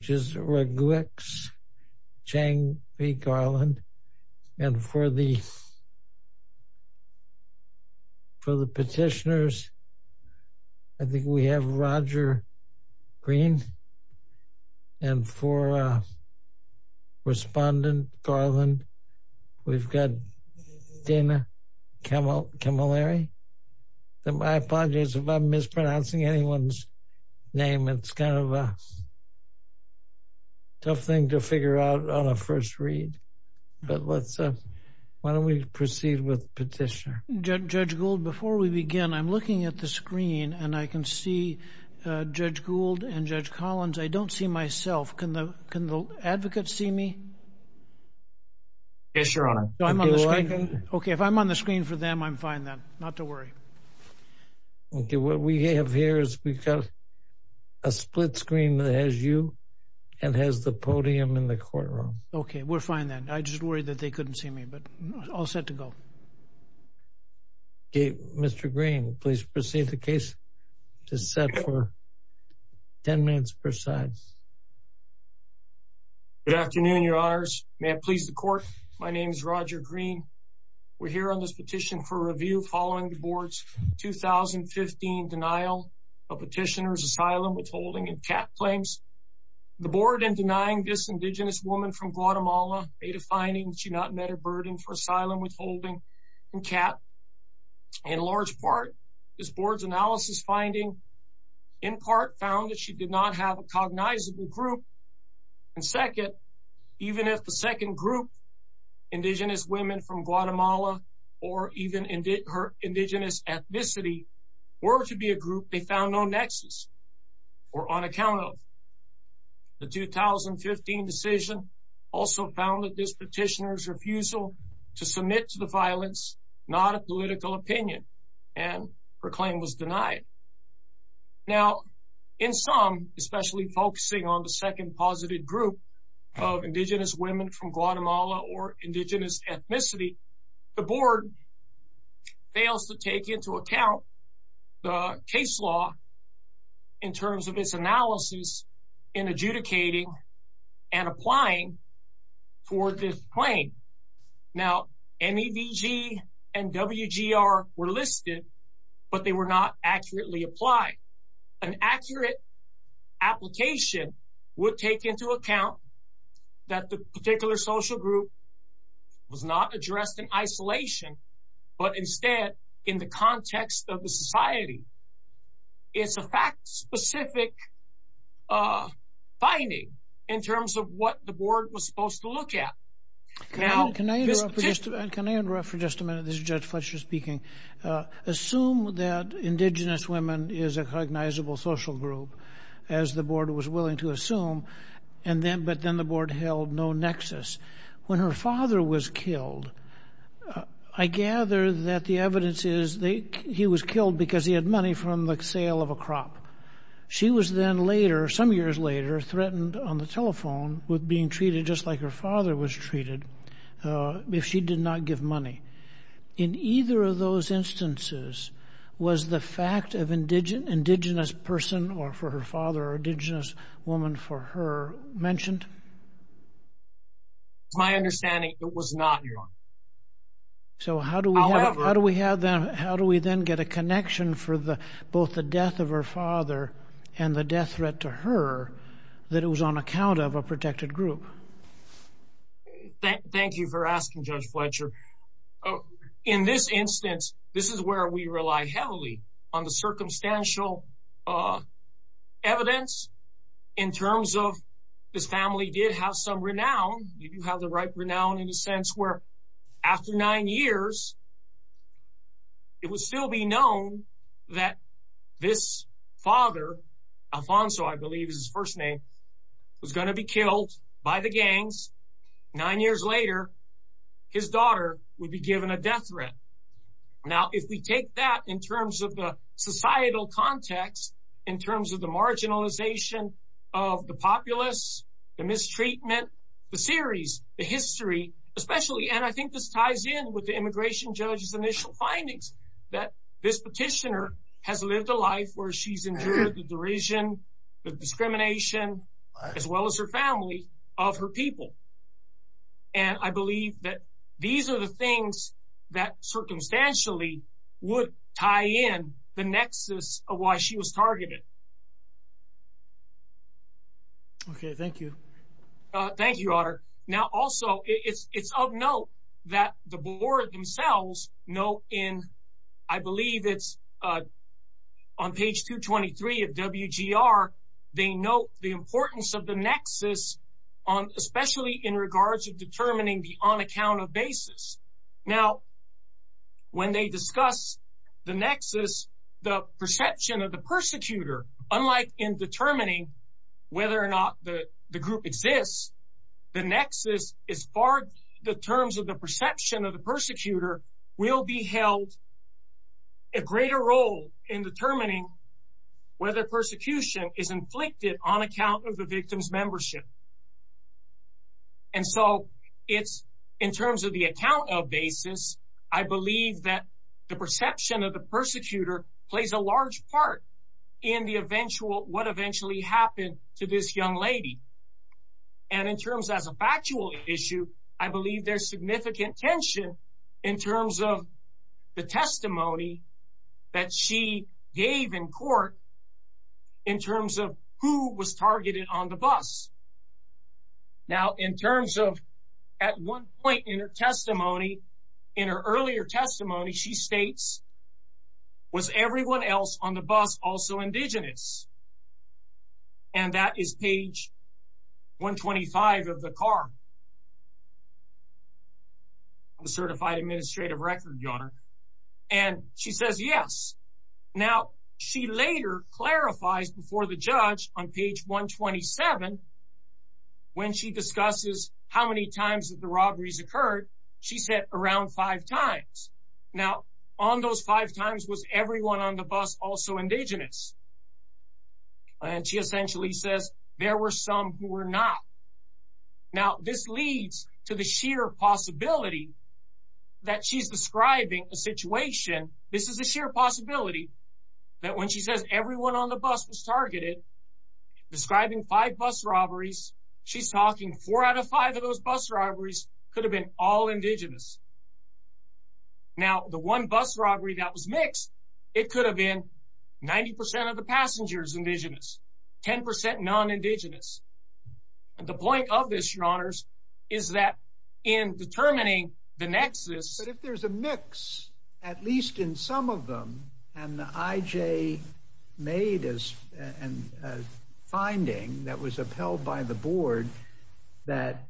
which is Raguex-Chang v. Garland, and for the petitioners, I think we have Roger Green, and for Respondent Garland, we've got Dana Camilleri, and I apologize if I'm mispronouncing anyone's name. It's kind of a tough thing to figure out on a first read, but why don't we proceed with the petitioner. Judge Gould, before we begin, I'm looking at the screen and I can see Judge Gould and Judge Collins. I don't see myself. Can the advocate see me? Yes, Your Honor. Okay, if I'm on the screen for them, I'm fine then. Not to worry. Okay, what we have here is we've got a split screen that has you and has the podium in the courtroom. Okay, we're fine then. I'm just worried that they couldn't see me, but all set to go. Okay, Mr. Green, please proceed the case. It is set for 10 minutes per side. Good afternoon, Your Honors. May it please the Court, my name is Roger Green. We're here on this petition for review following the Board's 2015 denial of petitioner's asylum, withholding, and CAP claims. The Board, in denying this Indigenous woman from Guatemala, made a finding that she not met her burden for asylum, withholding, and CAP. In large part, this Board's analysis finding in part found that she did not have a cognizable group, and second, even if the her Indigenous ethnicity were to be a group they found no nexus or on account of. The 2015 decision also found that this petitioner's refusal to submit to the violence, not a political opinion, and her claim was denied. Now, in some, especially focusing on the second group of Indigenous women from Guatemala or Indigenous ethnicity, the Board fails to take into account the case law in terms of its analysis in adjudicating and applying for this claim. Now, MEVG and WGR were listed, but they were not accurately applied. An accurate application would take into account that the particular social group was not addressed in isolation, but instead in the context of the society. It's a fact-specific finding in terms of what the Board was supposed to look at. Can I interrupt for just a minute? This is Judge Fletcher speaking. Assume that Indigenous women is a cognizable social group as the Board was willing to assume, but then the Board held no nexus. When her father was killed, I gather that the evidence is he was killed because he had money from the sale of a crop. She was then later, some years later, threatened on the telephone with being treated just like her father was treated if she did not give money. In either of those instances, was the fact of Indigenous person for her father or Indigenous woman for her mentioned? It's my understanding it was not. So, how do we then get a connection for both the death of her father and the death threat to her that it was on account of a protected group? Thank you for asking, Judge Fletcher. In this instance, this is where we rely heavily on the circumstantial evidence in terms of this family did have some renown. Did you have the right renown in the sense where after nine years, it would still be known that this father, Alfonso, I believe is his first name, was going to be killed by the gangs. Nine years later, his daughter would be given a death threat. Now, if we take that in terms of the societal context, in terms of the marginalization of the populace, the mistreatment, the series, the history, especially, and I think this ties in with the immigration judge's initial findings that this petitioner has lived a life where she's endured the derision, the discrimination, as well as her family of her people. And I believe that these are the things that circumstantially would tie in the nexus of why she was targeted. Okay, thank you. Thank you, Otter. Now, also, it's of note that the board themselves note in, I believe it's on page 223 of WGR, they note the importance of the nexus, especially in regards to determining the on account of basis. Now, when they discuss the nexus, the perception of the persecutor, unlike in determining whether or not the group exists, the nexus is far, the terms of the perception of the persecutor will be held a greater role in determining whether persecution is inflicted on account of the victim's membership. And so it's in terms of the account of basis, I believe that the perception of the persecutor plays a large part in what eventually happened to this young lady. And in terms as a factual issue, I believe there's significant tension in terms of the testimony that she gave in court in terms of who was targeted on the bus. Now, in terms of at one point in her testimony, in her earlier testimony, she states, was everyone else on the bus also indigenous? And that is page 125 of the CAR, the Certified Administrative Record, Your Honor. And she says, yes. Now, she later clarifies before the judge on page 127, when she discusses how many times that the robberies occurred, she said around five times. Now, on those five times, was everyone on the bus also indigenous? And she essentially says, there were some who were not. Now, this leads to the sheer possibility that she's describing a situation, this is a sheer possibility, that when she says everyone on the bus was targeted, describing five bus robberies, she's talking four out of five of those bus robberies could have been all indigenous. Now, the one bus robbery that was mixed, it could have been 90% of the passengers indigenous, 10% non-indigenous. And the point of this, Your Honors, is that in determining the nexus... But if there's a mix, at least in some of them, and the IJ made a finding that was upheld by the board, that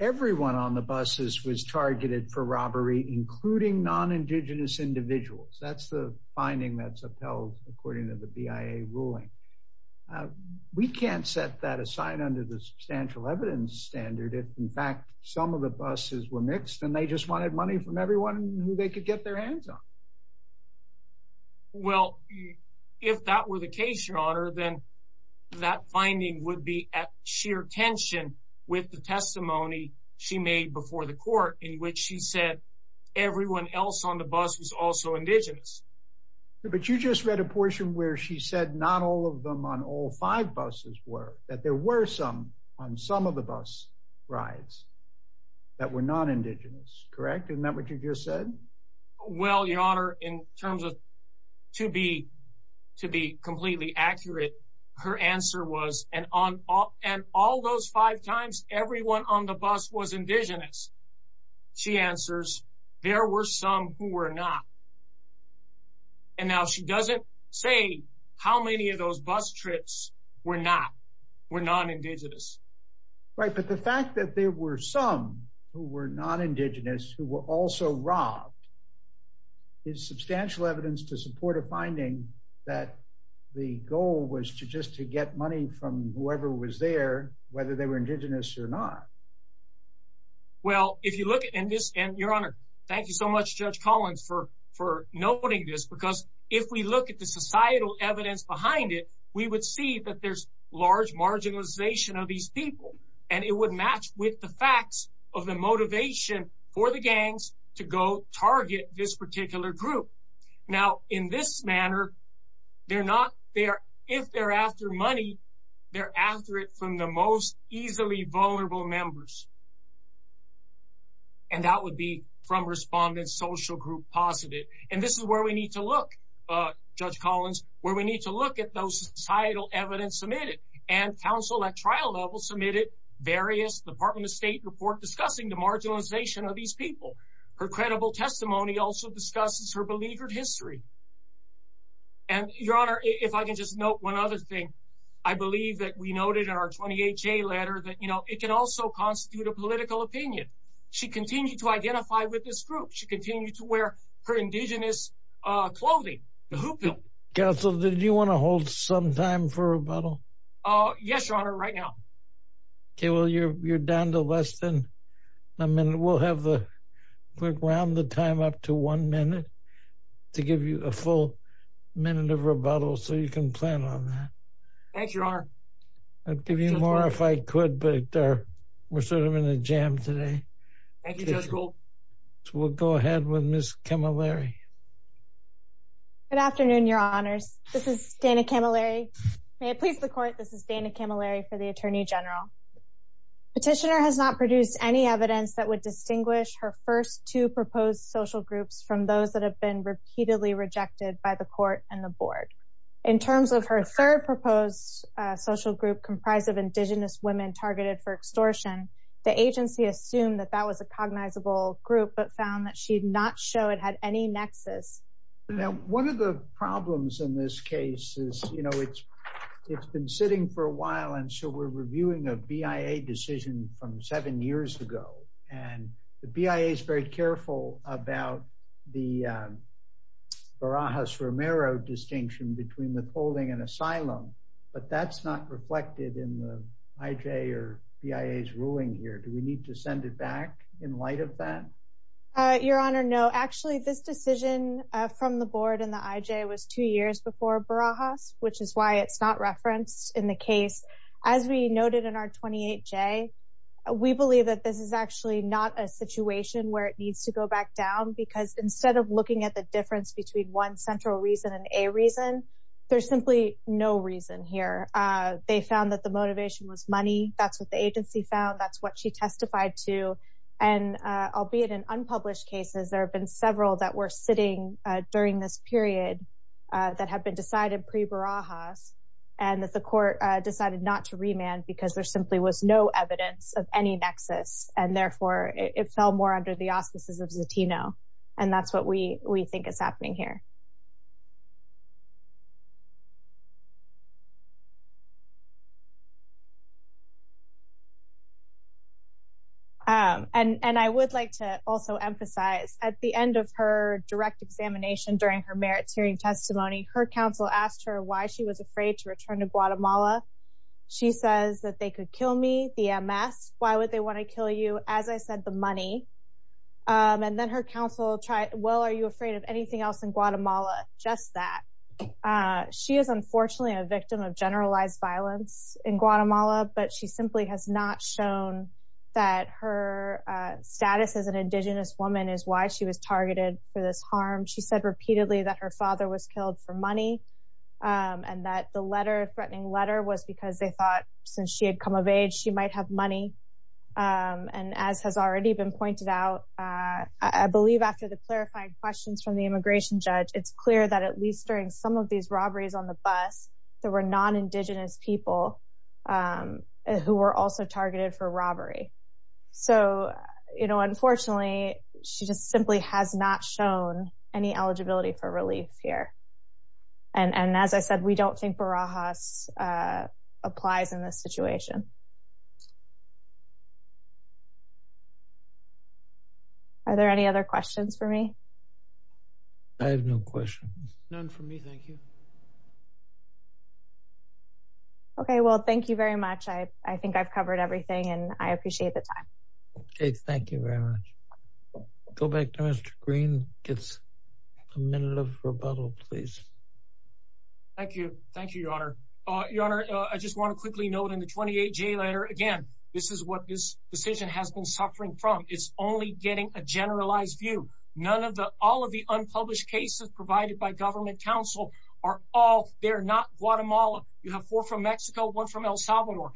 everyone on the buses was targeted for robbery, including non-indigenous individuals. That's the finding that's upheld according to the BIA ruling. We can't set that aside under the substantial evidence standard, if in fact, some of the buses were mixed, and they just wanted money from everyone who they could get their hands on. Well, if that were the case, Your Honor, then that finding would be at sheer tension with the testimony she made before the court in which she said everyone else on the bus was also indigenous. But you just read a portion where she said not all of them on all five buses were, that there were some on some of the bus rides that were non-indigenous, correct? Isn't that what you just said? Well, Your Honor, in terms of to be completely accurate, her answer was, and on all those five times, everyone on the bus was indigenous. She answers, there were some who were not. And now she doesn't say how many of those bus were not, were non-indigenous. Right, but the fact that there were some who were non-indigenous who were also robbed is substantial evidence to support a finding that the goal was to just to get money from whoever was there, whether they were indigenous or not. Well, if you look at this, and Your Honor, thank you so much, Judge Collins, for noting this, because if we look at the societal evidence behind it, we would see that there's large marginalization of these people. And it would match with the facts of the motivation for the gangs to go target this particular group. Now, in this manner, they're not, if they're after money, they're after it from the most easily vulnerable members. And that would be from respondents, social group positive. And this is where we need to look, Judge Collins, where we need to look at those societal evidence submitted. And counsel at trial level submitted various Department of State report discussing the marginalization of these people. Her credible testimony also discusses her beleaguered history. And Your Honor, if I can just note one other thing, I believe that we noted in our 28-J letter that, you know, it can also constitute a political opinion. She continued to identify with this group. She continued to wear her indigenous clothing, the hoopoe. Counsel, did you want to hold some time for rebuttal? Yes, Your Honor, right now. Okay, well, you're down to less than a minute. We'll have the quick round the time up to one minute to give you a full minute of rebuttal. So you can plan on that. Thank you, Your Honor. I'll give you more if I could, but we're sort of in a jam today. Thank you, Judge Gould. We'll go ahead with Ms. Camilleri. Good afternoon, Your Honors. This is Dana Camilleri. May it please the Court, this is Dana Camilleri for the Attorney General. Petitioner has not produced any evidence that would distinguish her first two proposed social groups from those that have been repeatedly rejected by the Court and the Board. In terms of her third proposed social group comprised of indigenous women targeted for extortion, the agency assumed that that was a cognizable group, but found that she did not show it had any nexus. Now, one of the problems in this case is, you know, it's been sitting for a while, and so we're reviewing a BIA decision from seven years ago. And the BIA is very distinction between withholding and asylum, but that's not reflected in the IJ or BIA's ruling here. Do we need to send it back in light of that? Your Honor, no. Actually, this decision from the Board and the IJ was two years before Barajas, which is why it's not referenced in the case. As we noted in our 28J, we believe that this is actually not a situation where it needs to go back down, because instead of looking at the difference between one central reason and a reason, there's simply no reason here. They found that the motivation was money. That's what the agency found. That's what she testified to. And albeit in unpublished cases, there have been several that were sitting during this period that had been decided pre-Barajas, and that the Court decided not to remand because there simply was no evidence of any nexus, and therefore it fell more under the And that's what we think is happening here. And I would like to also emphasize, at the end of her direct examination during her merits hearing testimony, her counsel asked her why she was afraid to return to Guatemala. She says that they could kill me, the MS. Why would they want to kill you? As I said, the money. And then her counsel tried, well, are you afraid of anything else in Guatemala? Just that. She is unfortunately a victim of generalized violence in Guatemala, but she simply has not shown that her status as an indigenous woman is why she was targeted for this harm. She said repeatedly that her father was killed for money, and that the threatening letter was because they thought since she had come of age, she might have money. And as has already been pointed out, I believe after the clarifying questions from the immigration judge, it's clear that at least during some of these robberies on the bus, there were non-indigenous people who were also targeted for robbery. So, unfortunately, she just simply has not shown any eligibility for relief here. And as I said, we don't think Barajas applies in this situation. Are there any other questions for me? I have no questions. None for me. Thank you. Okay. Well, thank you very much. I think I've covered everything and I appreciate the time. Okay. Thank you very much. Go back to Mr. Green. Give us a minute of rebuttal, please. Thank you. Thank you, Your Honor. Your Honor, I just want to quickly note in the 28J letter, again, this is what this decision has been suffering from. It's only getting a generalized view. None of the, all of the unpublished cases provided by government counsel are all, they're not Guatemala. You have four from Mexico, one from El Salvador.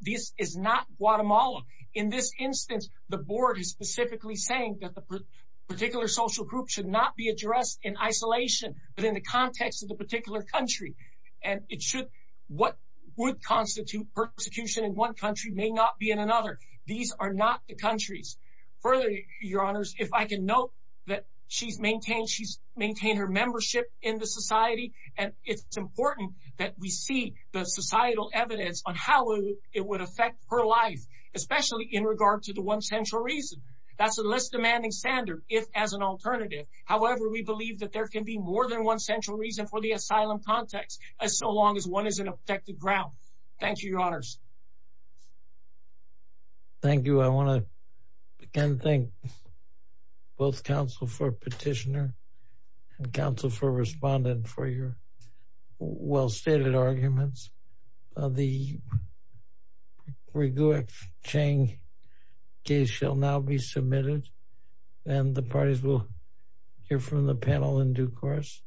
This is not Guatemala. In this instance, the board is specifically saying that the particular social group should not be addressed in isolation, but in the context of the particular country. And it should, what would constitute persecution in one country may not be in another. These are not the countries. Further, Your Honors, if I can note that she's maintained, she's maintained her membership in the society, and it's important that we see the societal evidence on how it would affect her life, especially in regard to the one central reason. That's a less demanding standard, if as an alternative. However, we believe that there can be more than one central reason for the asylum context, as so long as one is in a protected ground. Thank you, Your Honors. Thank you. I want to, again, thank both counsel for petitioner and counsel for respondent for your well-stated arguments. The Rigueur Chang case shall now be submitted, and the parties will hear from the panel in due course.